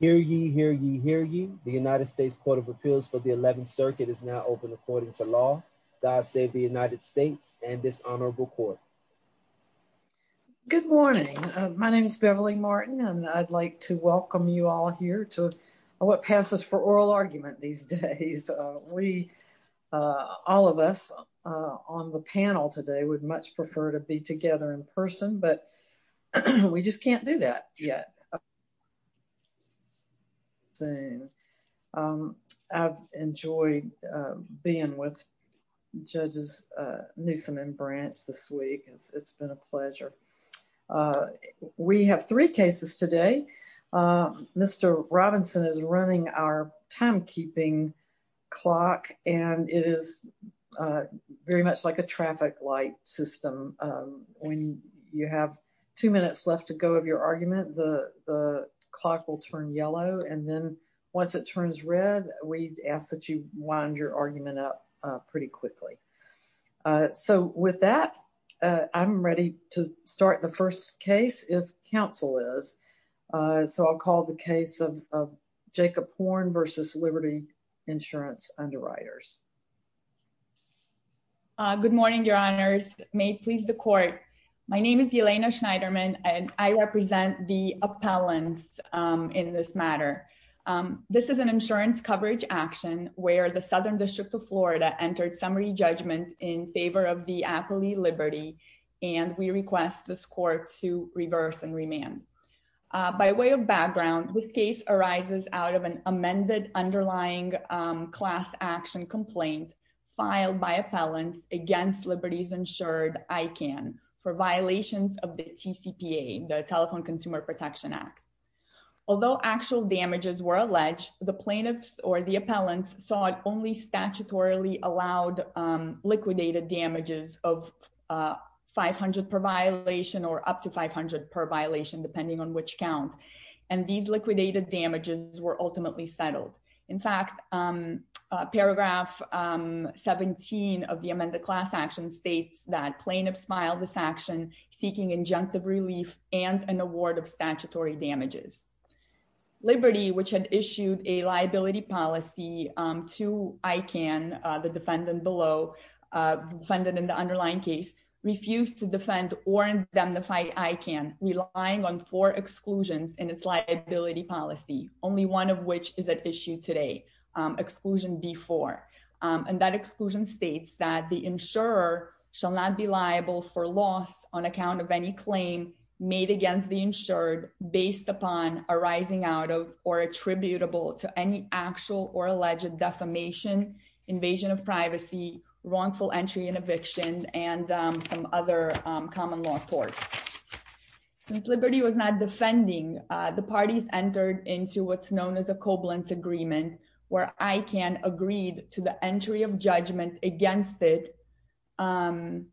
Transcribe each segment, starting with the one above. Hear ye, hear ye, hear ye. The United States Court of Appeals for the 11th Circuit is now open according to law. God save the United States and this honorable court. Good morning. My name is Beverly Martin and I'd like to welcome you all here to what passes for oral argument these days. We, all of us on the panel today, would much prefer to be together in person but we just can't do that yet. I've enjoyed being with judges Newsom and Branch this week. It's been a pleasure. We have three cases today. Mr. Robinson is running our timekeeping clock and it is very much like a traffic light system. When you have two minutes left to go of your argument, the clock will turn yellow and then once it turns red, we ask that you wind your argument up pretty quickly. So with that, I'm ready to start the first case if counsel is. So I'll call the case of Jacob Horn v. Liberty Insurance Underwriters. Good morning, your honors. May it please the court. My name is Yelena Schneiderman and I represent the appellants in this matter. This is an insurance coverage action where the Southern District of Florida entered summary judgment in favor of the Appley Liberty and we request this court to reverse and remand. By way of background, this case arises out of an amended underlying class action complaint filed by appellants against Liberty's insured ICANN for violations of the CPA, the Telephone Consumer Protection Act. Although actual damages were alleged, the plaintiffs or the appellants saw it only statutorily allowed liquidated damages of 500 per violation or up to 500 per violation depending on which count and these liquidated damages were ultimately settled. In fact, paragraph 17 of the amended class action states that plaintiffs filed this action seeking injunctive relief and an award of statutory damages. Liberty, which had issued a liability policy to ICANN, the defendant below, defendant in the underlying case, refused to defend or indemnify ICANN relying on four exclusions in its liability policy, only one of which is at issue today, exclusion B4 and that exclusion states that the insurer shall not be liable for loss on account of any claim made against the insured based upon arising out of or attributable to any actual or alleged defamation, invasion of privacy, wrongful entry and eviction, and some other common law courts. Since Liberty was not defending, the parties entered into what's known as a Koblenz agreement where ICANN agreed to the entry of judgment against it, to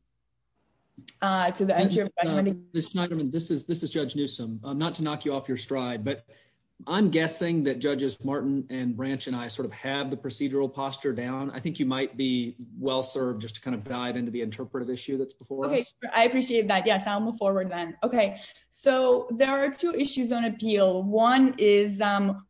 the entry of judgment. Judge Schneiderman, this is Judge Newsom, not to knock you off your stride, but I'm guessing that Judges Martin and Branch and I sort of have the procedural posture down. I think you might be well served just to kind of dive into the interpretive issue that's before us. I appreciate that. Yes, I'll move forward then. Okay, so there are two issues on appeal. One is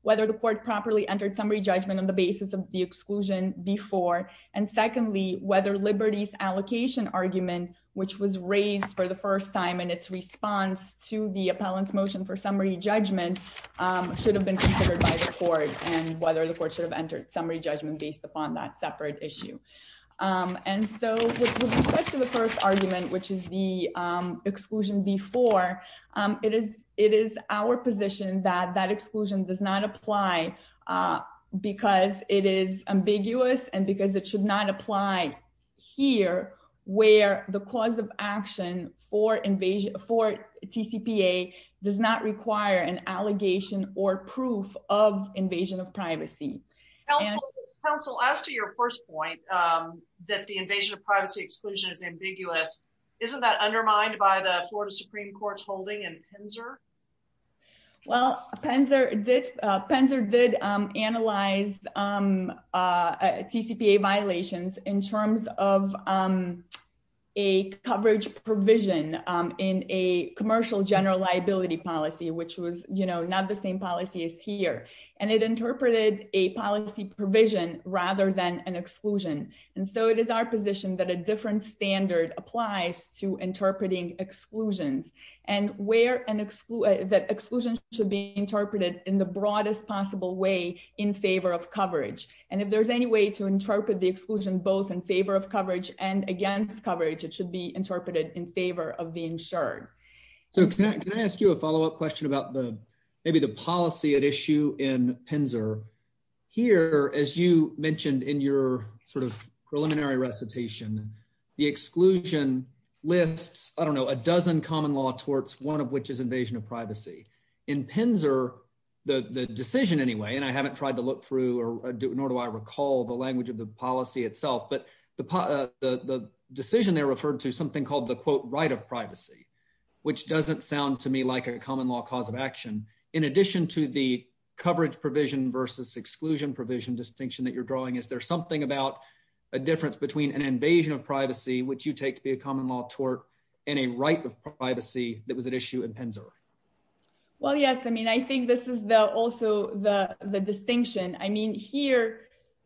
whether the court properly entered summary judgment on the basis of the exclusion before, and secondly, whether Liberty's allocation argument, which was raised for the first time in its response to the appellant's motion for summary judgment, should have been considered by the court and whether the court should have entered summary judgment based upon that separate issue. And so with respect to the first argument, which is the exclusion B4, it is our position that that exclusion does not apply because it is ambiguous and because it should not apply here where the cause of action for TCPA does not require an allegation or proof of invasion of privacy. Counsel, as to your first point that the invasion of privacy exclusion is ambiguous, isn't that undermined by the Florida Supreme Court's holding in Pinzer? Well, Pinzer did analyze TCPA violations in terms of a coverage provision in a commercial general liability policy, which was not the same policy as here. And it interpreted a policy provision rather than an exclusion. And so it is our position that a different standard applies to interpreting exclusions and that exclusion should be interpreted in the broadest possible way in favor of coverage. And if there's any way to interpret the exclusion both in favor of coverage and against coverage, it should be interpreted in favor of the insured. So can I ask you a follow-up question about maybe the policy at issue in Pinzer? Here, as you mentioned in your sort of preliminary recitation, the exclusion lists, I don't know, a dozen common law torts, one of which is invasion of privacy. In Pinzer, the decision anyway, and I haven't tried to look through, nor do I recall the language of the policy itself, but the decision there referred to something called the quote, right of privacy, which doesn't sound to me like a common law cause of action. In addition to the coverage provision versus exclusion provision distinction that you're drawing, is there something about a difference between an invasion of privacy, which you take to be a common law tort, and a right of privacy that was at issue in Pinzer? Well, yes. I mean, I think this is also the distinction. I mean, here,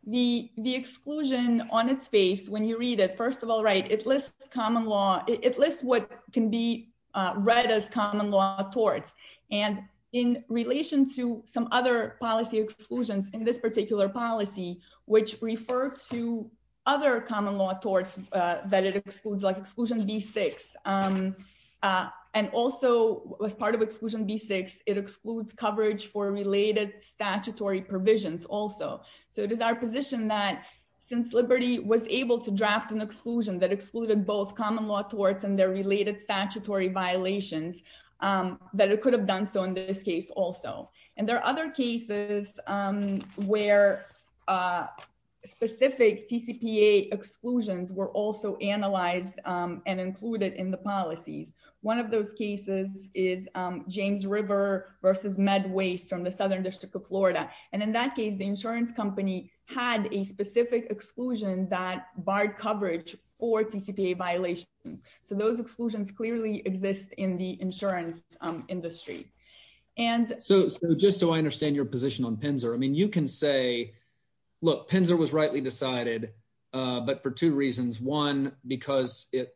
the exclusion on its face, when you read it, first of all, right, it lists what can be read as common law torts. And in relation to some other policy exclusions in this particular policy, which referred to other common law torts, that it excludes like exclusion B6. And also, as part of exclusion B6, it excludes coverage for related statutory provisions also. So it is our position that since Liberty was able to draft an exclusion that excluded both common law torts and their related statutory violations, that it could have done so in this case also. And there are other cases where specific TCPA exclusions were also analyzed, and included in the policies. One of those cases is James River versus Med Waste from the Southern District of Florida. And in that case, the insurance company had a specific exclusion that barred coverage for those exclusions clearly exist in the insurance industry. And so just so I understand your position on Pinzer, I mean, you can say, look, Pinzer was rightly decided, but for two reasons. One, because it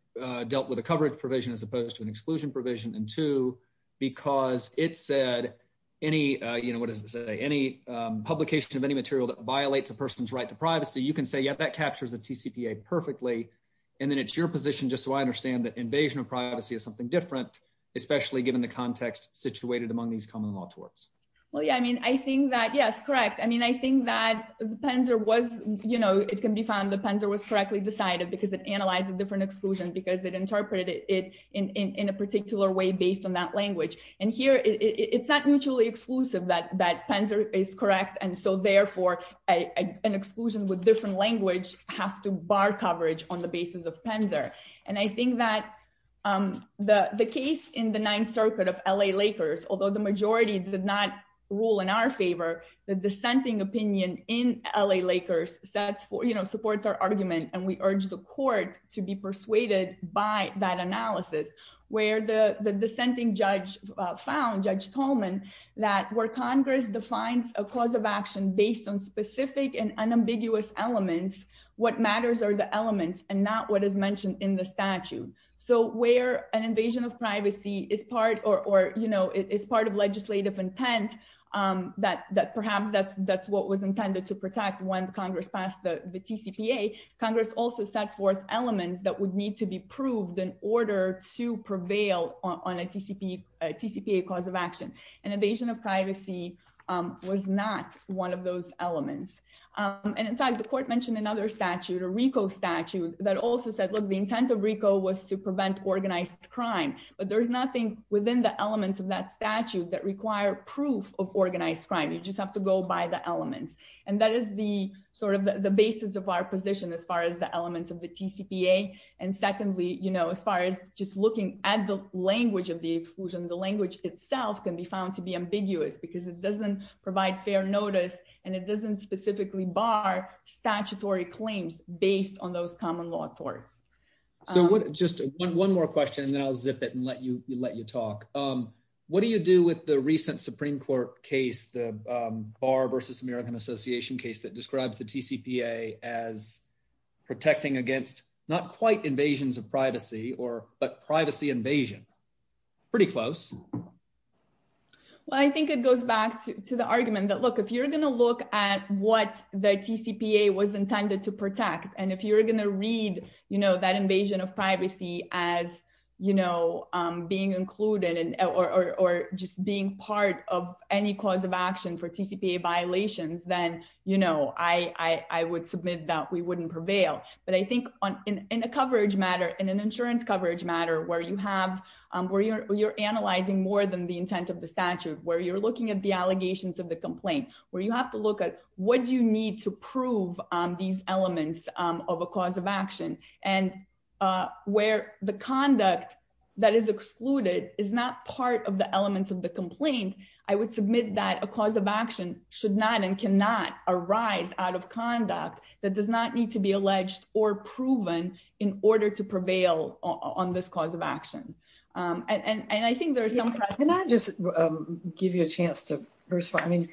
dealt with a coverage provision as opposed to an exclusion provision. And two, because it said, any, you know, what does it say, any publication of any material that violates a person's right to privacy, you can say, yeah, that captures the TCPA perfectly. And then it's your position, just so I understand that invasion of privacy is something different, especially given the context situated among these common law torts. Well, yeah, I mean, I think that, yes, correct. I mean, I think that the Pinzer was, you know, it can be found the Pinzer was correctly decided because it analyzed a different exclusion, because it interpreted it in a particular way based on that language. And here, it's not mutually exclusive that Pinzer is correct. And so therefore, an exclusion with different language has to bar coverage on the basis of Pinzer. And I think that the case in the Ninth Circuit of L.A. Lakers, although the majority did not rule in our favor, the dissenting opinion in L.A. Lakers sets for, you know, supports our argument. And we urge the court to be persuaded by that analysis, where the dissenting judge found, Judge Tolman, that where Congress defines a cause of action based on specific and unambiguous elements, what matters are the elements and not what is mentioned in the statute. So where an invasion of privacy is part or, you know, is part of legislative intent, that perhaps that's what was intended to protect when Congress passed the TCPA. Congress also set forth elements that would need to be proved in order to prevail on a TCPA cause of action. An invasion of privacy was not one of those elements. And in fact, the court mentioned another statute, a RICO statute, that also said, look, the intent of RICO was to prevent organized crime. But there's nothing within the elements of that statute that require proof of organized crime. You just have to go by the elements. And that is the sort of the basis of our position as far as the elements of the TCPA. And secondly, you know, as far as looking at the language of the exclusion, the language itself can be found to be ambiguous, because it doesn't provide fair notice. And it doesn't specifically bar statutory claims based on those common law torts. So just one more question, and then I'll zip it and let you let you talk. What do you do with the recent Supreme Court case, the Bar versus American Association case that describes the TCPA as protecting against not quite invasions of privacy, but privacy invasion? Pretty close. Well, I think it goes back to the argument that, look, if you're going to look at what the TCPA was intended to protect, and if you're going to read, you know, that invasion of privacy as, you know, being included in or just being part of any cause of action for TCPA violations, then, you know, I would submit that we wouldn't prevail. But I where you have, where you're analyzing more than the intent of the statute, where you're looking at the allegations of the complaint, where you have to look at what do you need to prove these elements of a cause of action, and where the conduct that is excluded is not part of the elements of the complaint, I would submit that a cause of action should not and cannot arise out of conduct that does not need to be alleged or proven in order to prevail on this cause of action. And I think there's some... Can I just give you a chance to respond? I mean,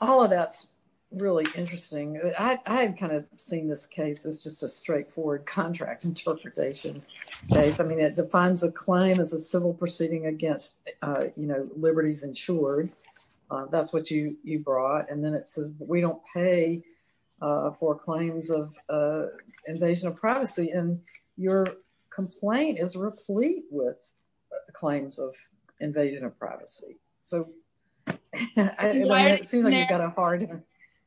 all of that's really interesting. I've kind of seen this case as just a straightforward contract interpretation case. I mean, it defines a claim as a civil proceeding against, you know, for claims of invasion of privacy, and your complaint is replete with claims of invasion of privacy. So it seems like you've got a hard time.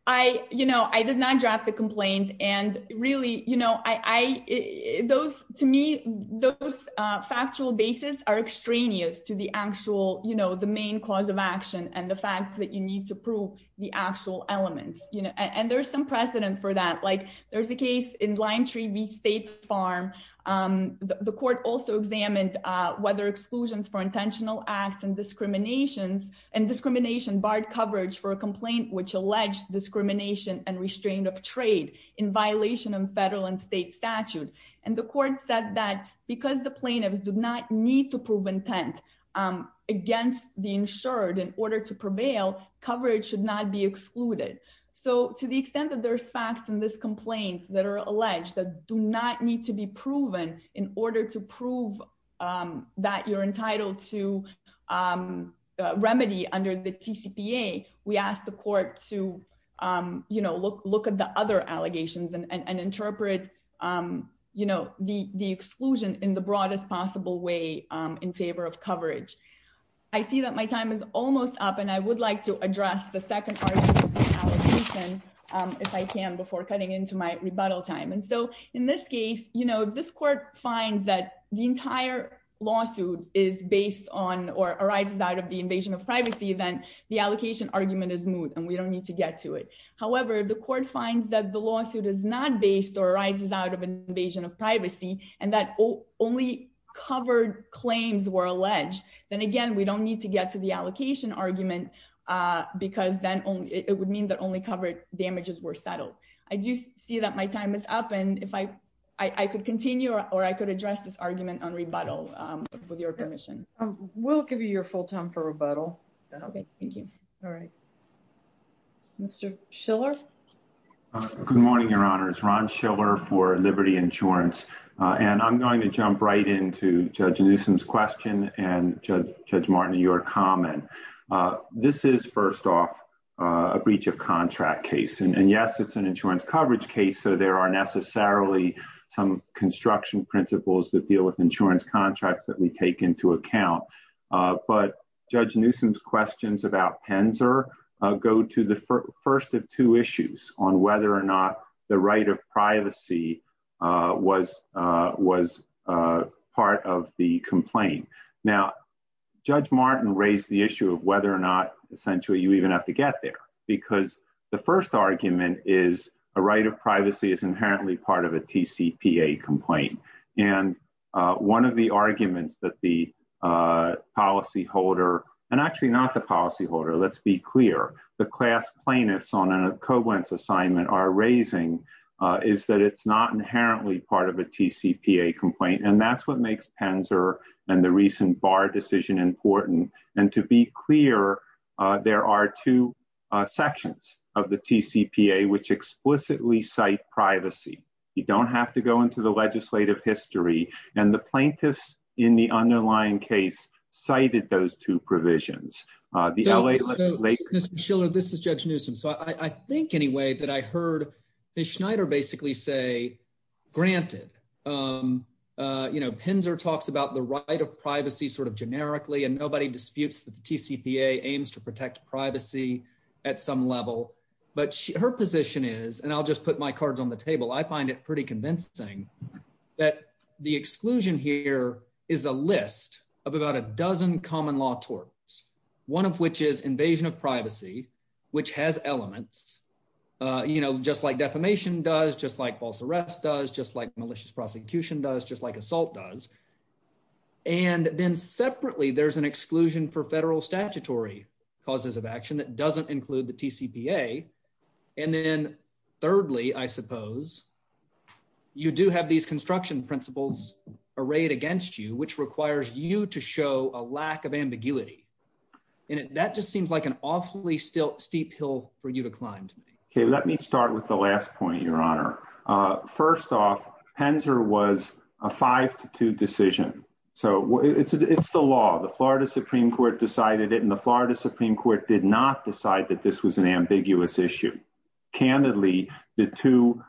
I, you know, I did not draft the complaint. And really, you know, I, those to me, those factual basis are extraneous to the actual, you know, the main cause of action and the facts that you need to prove the actual elements, you know, and there's some precedent for that. Like, there's a case in Lime Tree Beach State Farm. The court also examined whether exclusions for intentional acts and discriminations and discrimination barred coverage for a complaint which alleged discrimination and restraint of trade in violation of federal and state statute. And the court said that because the plaintiffs do not need to prove intent against the insured in order to prevail, coverage should not be excluded. So to the extent that there's facts in this complaint that are alleged that do not need to be proven in order to prove that you're entitled to remedy under the TCPA, we asked the court to, you know, look, look at the other allegations and interpret, you know, the the exclusion in the broadest possible way, in favor of coverage. I see that my time is almost up. And I would like to address the second part of the allegation if I can before cutting into my rebuttal time. And so in this case, you know, if this court finds that the entire lawsuit is based on or arises out of the invasion of privacy, then the allocation argument is moot and we don't need to get to it. However, if the court finds that the lawsuit is not based or arises out of an invasion of privacy, and that only covered claims were alleged, then again, we don't need to get to the allocation argument. Because then only it would mean that only covered damages were settled. I do see that my time is up. And if I, I could continue or I could address this argument on rebuttal. With your permission, we'll give you your full time for rebuttal. Okay, thank you. All right. Mr. Schiller. Good morning, Your Honor is Ron Schiller for Liberty Insurance. And I'm going to jump right into Judge Newsom's question and Judge Martin, your comment. This is first off, a breach of contract case. And yes, it's an insurance coverage case. So there are necessarily some construction principles that deal with insurance contracts that we take into account. But Judge Newsom's questions about Penzer go to the first of two issues on whether or not the right of privacy was was part of the complaint. Now, Judge Martin raised the issue of whether or not essentially you even have to get there. Because the first argument is a right of privacy is inherently part of a TCPA complaint. And one of the arguments that the policy holder, and actually not the policy holder, let's be clear, the class plaintiffs on a covenants assignment are raising, is that it's not inherently part of a TCPA complaint. And that's what makes Penzer and the recent bar decision important. And to be clear, there are two sections of the TCPA, which explicitly cite privacy, you don't have to go into the legislative history. And the plaintiffs in the underlying case cited those two provisions. The LA. Mr. Schiller, this is Judge Newsom. So I think anyway, that I heard Ms. Schneider basically say, granted, you know, Penzer talks about the right of privacy sort of generically, and nobody disputes the TCPA aims to protect privacy at some level. But her position is, and I'll just put my cards on the table, I find it pretty convincing that the exclusion here is a list of about a dozen common law torts, one of which is invasion of privacy, which has elements, you know, just like defamation does just like false arrest does just like malicious prosecution does just like assault does. And then separately, there's an exclusion for federal statutory causes of action that doesn't include the TCPA. And then, thirdly, I suppose, you do have these construction principles arrayed against you, which requires you to show a lack of ambiguity. And that just seems like an awfully still steep hill for you to climb. Okay, let me start with the last point, Your Honor. First off, Penzer was a five to two decision. So it's the law, the Florida Supreme Court decided it and the Florida Supreme Court did not decide that this was an ambiguous issue. Candidly, the two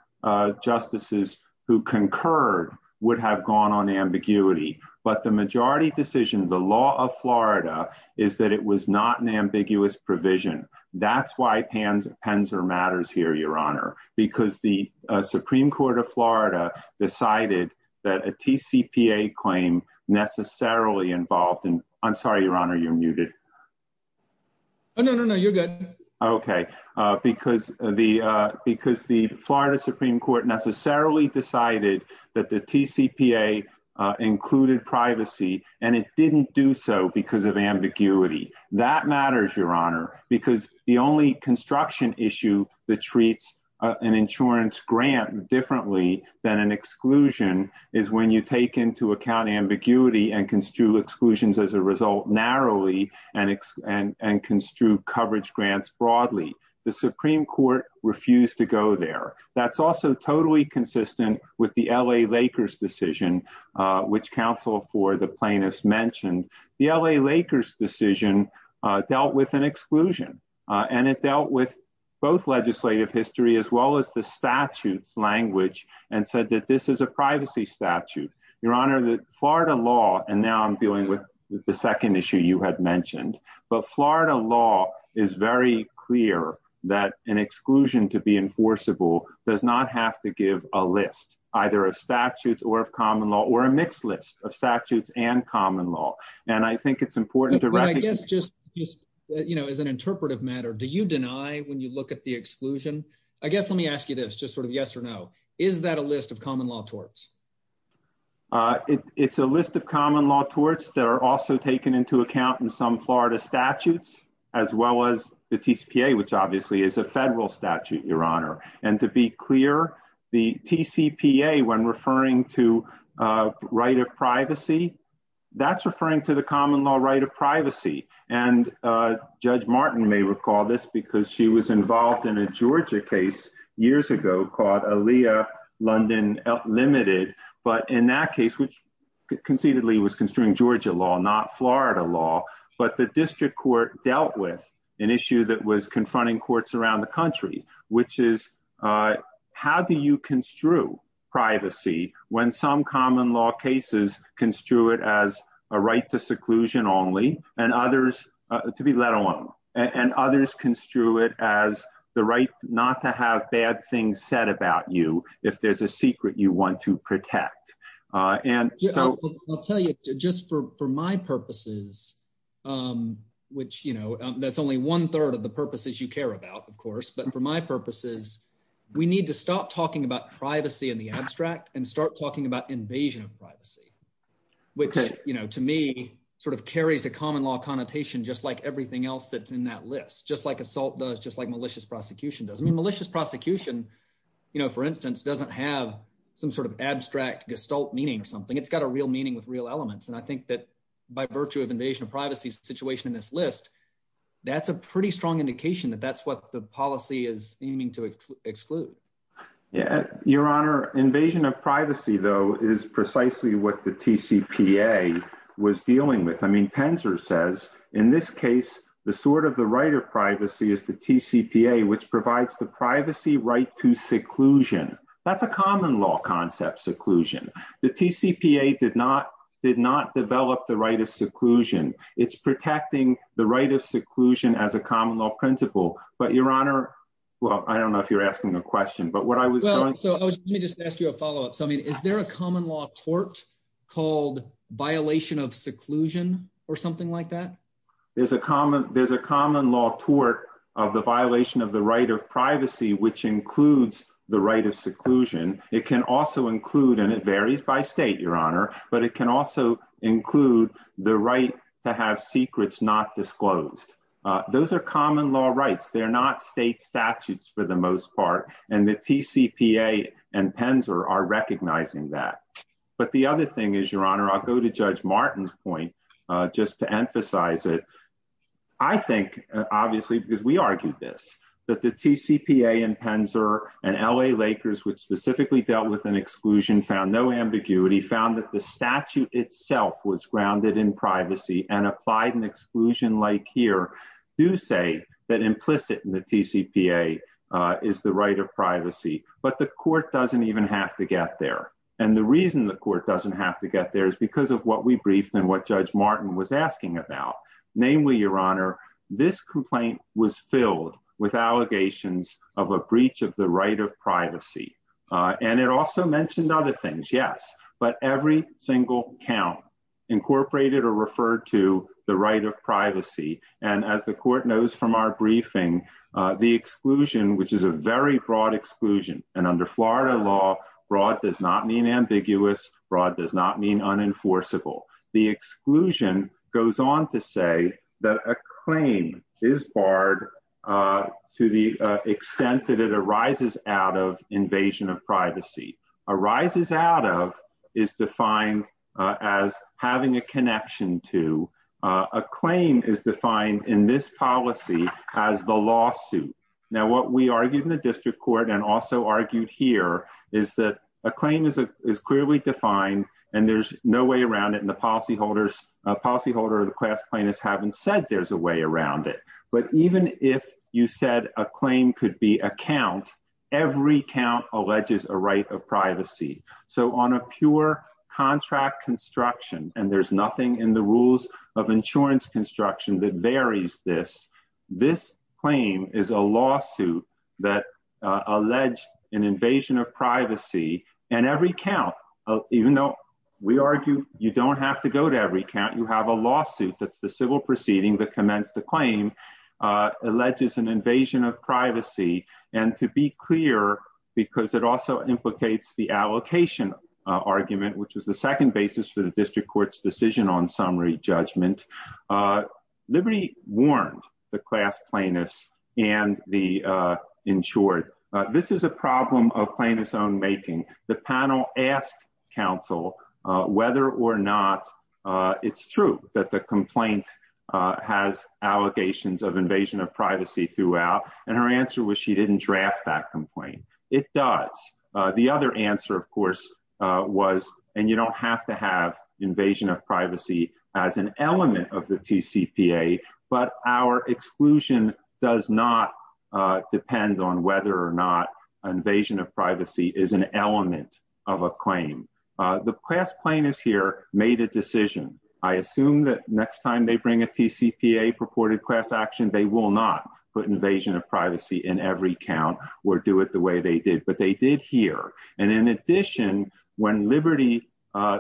justices who concurred would have gone on ambiguity. But the majority decision, the law of Florida is that it was not an ambiguous provision. That's why Penzer matters here, Your Honor, because the Supreme Court of Florida decided that a TCPA claim necessarily involved and I'm sorry, Your Honor, you're muted. Oh, no, no, no, you're good. Okay, because the Florida Supreme Court necessarily decided that the TCPA included privacy, and it didn't do so because of ambiguity. That matters, Your Honor, because the only construction issue that treats an insurance grant differently than an exclusion is when you take into account ambiguity and construe exclusions as a result narrowly and construe coverage grants broadly. The Supreme Court refused to go there. That's also totally consistent with the L.A. Lakers decision, which counsel for the plaintiffs mentioned. The L.A. Lakers decision dealt with an exclusion and it dealt with both legislative history as well as the statutes language and said that this is a privacy statute. Your Honor, the Florida law, and now I'm dealing with the second issue you had mentioned, but Florida law is very clear that an exclusion to be enforceable does not have to give a list either of statutes or of common law or a mixed list of statutes and common law, and I think it's important to recognize. I guess just, you know, as an interpretive matter, do you deny when you look at the exclusion? I guess let me ask you this, just sort of yes or no. Is that a list of common law torts? It's a list of common law torts that are also taken into account in some Florida statutes as well as the TCPA, which obviously is a federal statute, Your Honor. And to be clear, the TCPA, when referring to right of privacy, that's referring to the common law right of privacy. And Judge Martin may recall this because she was involved in a Georgia case years ago called London Limited. But in that case, which conceivably was construing Georgia law, not Florida law, but the district court dealt with an issue that was confronting courts around the country, which is how do you construe privacy when some common law cases construe it as a right to seclusion only and others to be let alone, and others construe it as the right not to have bad things said about you if there's a secret you want to protect. And so I'll tell you, just for my purposes, which, you know, that's only one third of the purposes you care about, of course, but for my purposes, we need to stop talking about privacy in the abstract and start talking about invasion of privacy, which, you know, to me, sort of carries a common law connotation, just like everything else that's in that list, just like assault does just like malicious prosecution does. I mean, malicious prosecution, you know, for instance, doesn't have some sort of abstract gestalt meaning or something. It's got a real meaning with real elements. And I think that by virtue of invasion of privacy situation in this list, that's a pretty strong indication that that's what the policy is aiming to exclude. Yeah, Your Honor, invasion of privacy, though, is precisely what the TCPA was dealing with. I mean, Penzer says, in this case, the sort of the right of privacy is the TCPA, which provides the privacy right to seclusion. That's a common law concept, seclusion. The TCPA did not did not develop the right of seclusion. It's protecting the right of seclusion as a common law principle. But Your Honor, well, I don't know if you're asking a question, but what I was going so let me just ask you a follow up. So I mean, is there a common law tort called violation of seclusion or something like that? There's a common there's a common law tort of the violation of the right of privacy, which includes the right of seclusion. It can also include and it varies by state, Your Honor, but it can also include the right to have secrets not disclosed. Those are common law rights. They're not state statutes for the most part. And the TCPA and Penzer are recognizing that. But the other thing is, I'll go to Judge Martin's point just to emphasize it. I think, obviously, because we argued this, that the TCPA and Penzer and L.A. Lakers, which specifically dealt with an exclusion, found no ambiguity, found that the statute itself was grounded in privacy and applied an exclusion like here to say that implicit in the TCPA is the right of privacy. But the court doesn't even have to get there. And the reason the court doesn't have to get there is because of what we briefed and what Judge Martin was asking about. Namely, Your Honor, this complaint was filled with allegations of a breach of the right of privacy. And it also mentioned other things. Yes. But every single count incorporated or referred to the right of privacy. And as the court knows from our does not mean ambiguous. Broad does not mean unenforceable. The exclusion goes on to say that a claim is barred to the extent that it arises out of invasion of privacy, arises out of is defined as having a connection to a claim is defined in this policy as the lawsuit. Now, we argued in the district court and also argued here is that a claim is clearly defined and there's no way around it. And the policyholders, policyholder, the class plaintiffs haven't said there's a way around it. But even if you said a claim could be a count, every count alleges a right of privacy. So on a pure contract construction and there's nothing in the rules of insurance construction that varies this. This claim is a lawsuit that alleged an invasion of privacy. And every count, even though we argue you don't have to go to every count, you have a lawsuit. That's the civil proceeding that commenced the claim alleges an invasion of privacy. And to be clear, because it also implicates the allocation argument, which was the second basis for the liberty warned the class plaintiffs and the insured. This is a problem of plaintiff's own making. The panel asked counsel whether or not it's true that the complaint has allegations of invasion of privacy throughout. And her answer was she didn't draft that complaint. It does. The other answer, of course, was and you don't have to have invasion of privacy as an element of the TCPA, but our exclusion does not depend on whether or not invasion of privacy is an element of a claim. The class plaintiffs here made a decision. I assume that next time they bring a TCPA purported class action, they will not put invasion of privacy in every count or do it the way they did. But they did here. And in addition, when Liberty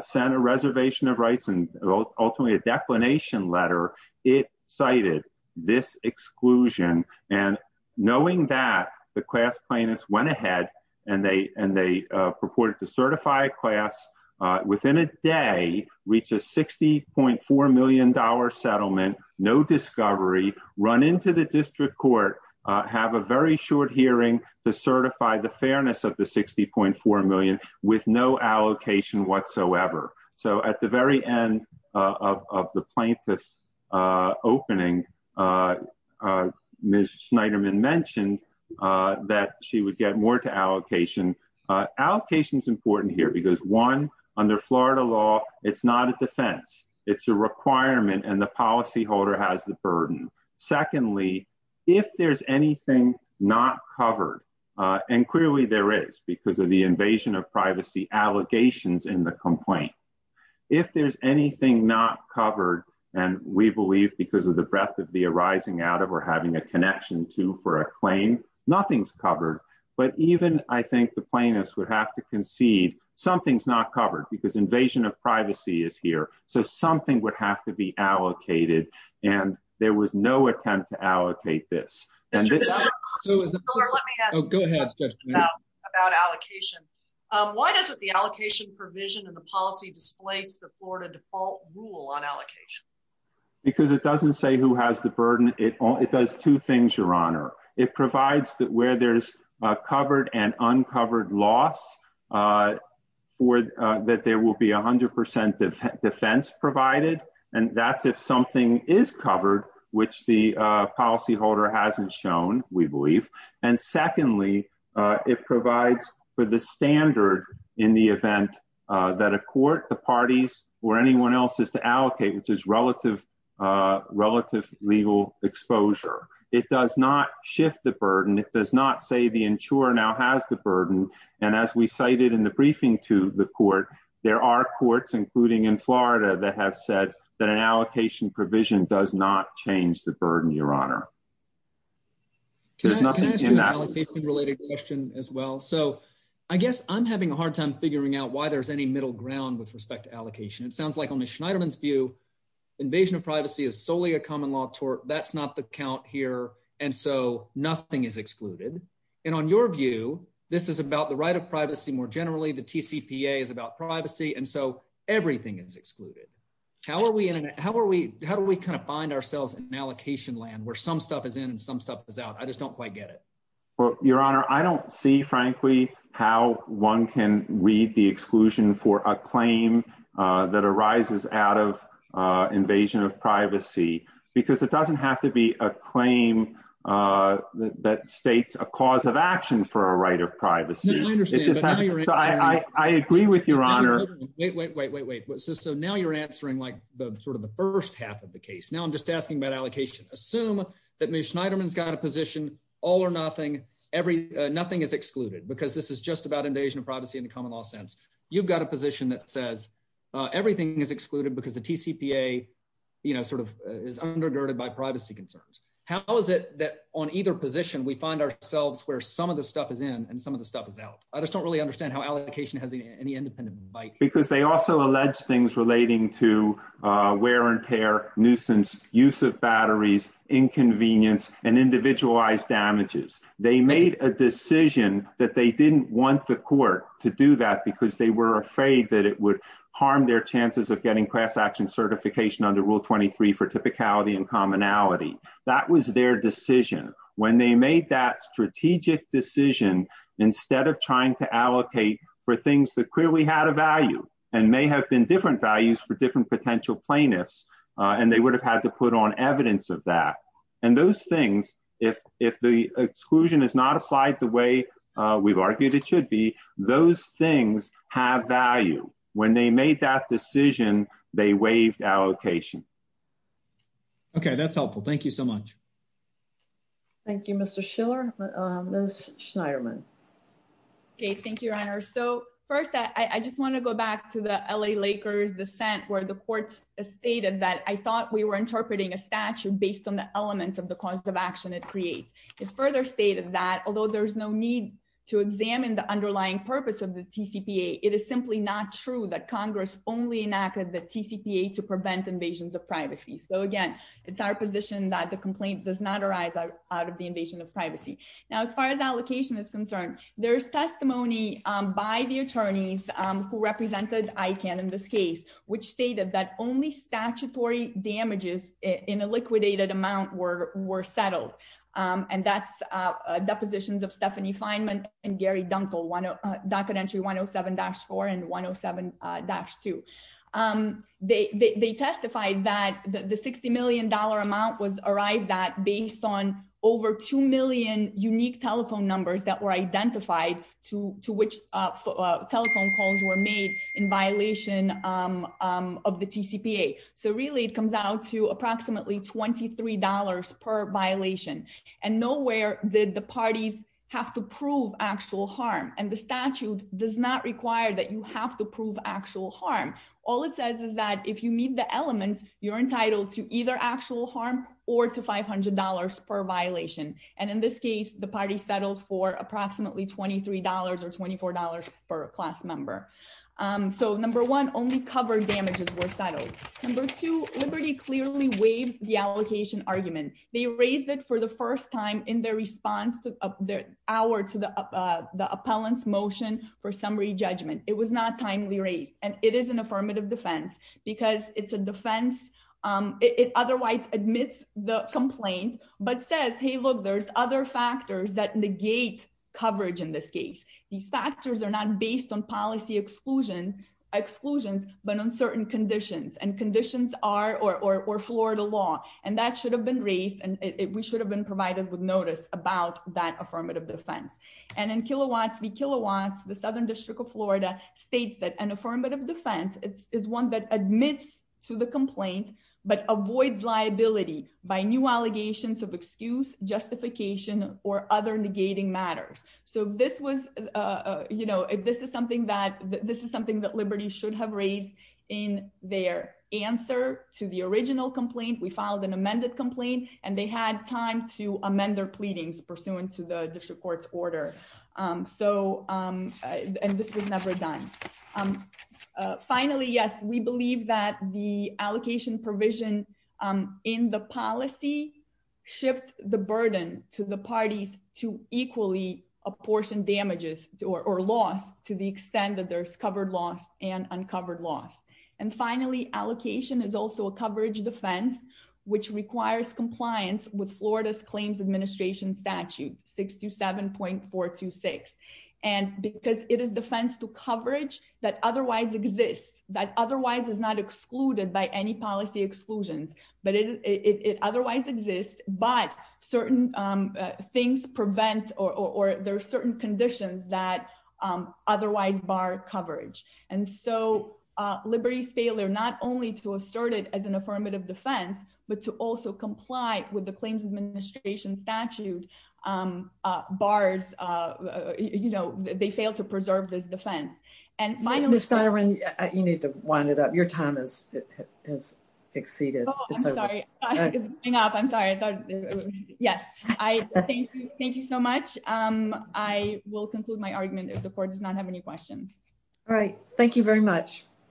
sent a reservation of rights and ultimately a declination letter, it cited this exclusion. And knowing that the class plaintiffs went ahead and they and they purported to certify class within a day, reach a 60.4 million dollar settlement, no discovery run into the district court, have a very short hearing to certify the of the plaintiff's opening. Ms. Schneiderman mentioned that she would get more to allocation. Allocation is important here because one, under Florida law, it's not a defense. It's a requirement and the policyholder has the burden. Secondly, if there's anything not covered, and clearly there is because of the invasion of privacy allegations in the complaint. If there's anything not covered, and we believe because of the breadth of the arising out of or having a connection to for a claim, nothing's covered. But even I think the plaintiffs would have to concede something's not covered because invasion of privacy is here. So something would have to be allocated. And there Why doesn't the allocation provision and the policy displace the Florida default rule on allocation? Because it doesn't say who has the burden. It does two things, Your Honor. It provides that where there's a covered and uncovered loss, that there will be 100 percent defense provided. And that's if something is covered, which the policyholder hasn't shown, we believe. And secondly, it provides for the standard in the event that a court, the parties, or anyone else is to allocate, which is relative, relative legal exposure. It does not shift the burden. It does not say the insurer now has the burden. And as we cited in the briefing to the court, there are courts, including in Florida, that have said that an allocation provision does not change the burden, Your Honor. Can I ask you an allocation-related question as well? So I guess I'm having a hard time figuring out why there's any middle ground with respect to allocation. It sounds like on Ms. Schneiderman's view, invasion of privacy is solely a common law tort. That's not the count here. And so nothing is excluded. And on your view, this is about the right of privacy more generally. The TCPA is about privacy. And so everything is excluded. How are we in an, how are we, how do we kind of find ourselves in allocation land where some stuff is in and some stuff is out? I just don't quite get it. Well, Your Honor, I don't see, frankly, how one can read the exclusion for a claim that arises out of invasion of privacy, because it doesn't have to be a claim that states a cause of action for a right of privacy. So I agree with Your Honor. Wait, wait, wait, wait, wait. So now you're answering like the sort of the first half of the case. Now I'm just asking about allocation. Assume that Ms. Schneiderman's got a position, all or nothing, nothing is excluded, because this is just about invasion of privacy in the common law sense. You've got a position that says everything is excluded because the TCPA, you know, sort of is undergirded by privacy concerns. How is it that on either position we find ourselves where some of the stuff is in and some of the stuff is out? I just don't really understand how allocation has any independent bite. Because they also allege things relating to wear and tear, nuisance, use of batteries, inconvenience, and individualized damages. They made a decision that they didn't want the court to do that because they were afraid that it would harm their chances of getting class action certification under Rule 23 for typicality and commonality. That was their decision. When they made that strategic decision, instead of trying to allocate for things that clearly had a value and may have been different values for different potential plaintiffs, and they would have had to put on evidence of that. And those things, if the exclusion is not applied the way we've argued it should be, those things have value. When they made that decision, they waived allocation. Okay, that's helpful. Thank you so much. Thank you, Mr. Schiller. Ms. Schneiderman. Okay, thank you, Your Honor. So first, I just want to go back to the L.A. Lakers' dissent where the courts stated that I thought we were interpreting a statute based on the elements of the cause of action it creates. It further stated that although there's no need to examine the underlying purpose of the TCPA, it is simply not true that Congress only enacted the TCPA to prevent invasions of privacy. So again, it's our position that the complaint does not arise out of the invasion of privacy. Now, as far as allocation is concerned, there's testimony by the attorneys who represented ICANN in this case, which stated that only and Gary Dunkle, docket entry 107-4 and 107-2. They testified that the $60 million amount was arrived at based on over 2 million unique telephone numbers that were identified to which telephone calls were made in violation of the TCPA. So really, it comes out to approximately $23 per violation. And nowhere did the parties have to prove actual harm. And the statute does not require that you have to prove actual harm. All it says is that if you meet the elements, you're entitled to either actual harm or to $500 per violation. And in this case, the party settled for approximately $23 or $24 per class member. So number one, only cover damages were settled. Number two, Liberty clearly waived the allocation argument. They raised it for the first time in their response to the appellant's motion for summary judgment. It was not timely raised. And it is an affirmative defense, because it's a defense. It otherwise admits the complaint, but says, hey, look, there's other factors that negate coverage in this case. These factors are not based on policy exclusions, but on certain conditions. And conditions are, or Florida law. And that should have been raised. And we should have been provided with notice about that affirmative defense. And in Kilowatts v. Kilowatts, the Southern District of Florida states that an affirmative defense is one that admits to the complaint, but avoids liability by new allegations of excuse, justification, or other negating matters. So this was you know, this is something that this is something that Liberty should have raised in their answer to the original complaint. We filed an amended complaint, and they had time to amend their pleadings pursuant to the district court's order. So, and this was never done. Finally, yes, we believe that the allocation provision in the policy shifts the burden to the parties to equally apportioned damages or loss to the extent that there's covered loss and uncovered loss. And finally, allocation is also a coverage defense, which requires compliance with Florida's claims administration statute 627.426. And because it is defense to coverage that otherwise exists, that otherwise is not excluded by any policy exclusions, but it otherwise exists, but certain things prevent or there are certain conditions that otherwise bar coverage. And so, Liberty's failure not only to assert it as an affirmative defense, but to also comply with the claims administration statute bars, you know, they fail to preserve this defense. And finally, you need to wind it up. Your time has exceeded. Oh, I'm sorry. I'm sorry. Yes. Thank you. Thank you so much. I will conclude my argument if the court does not have any questions. All right. Thank you very much.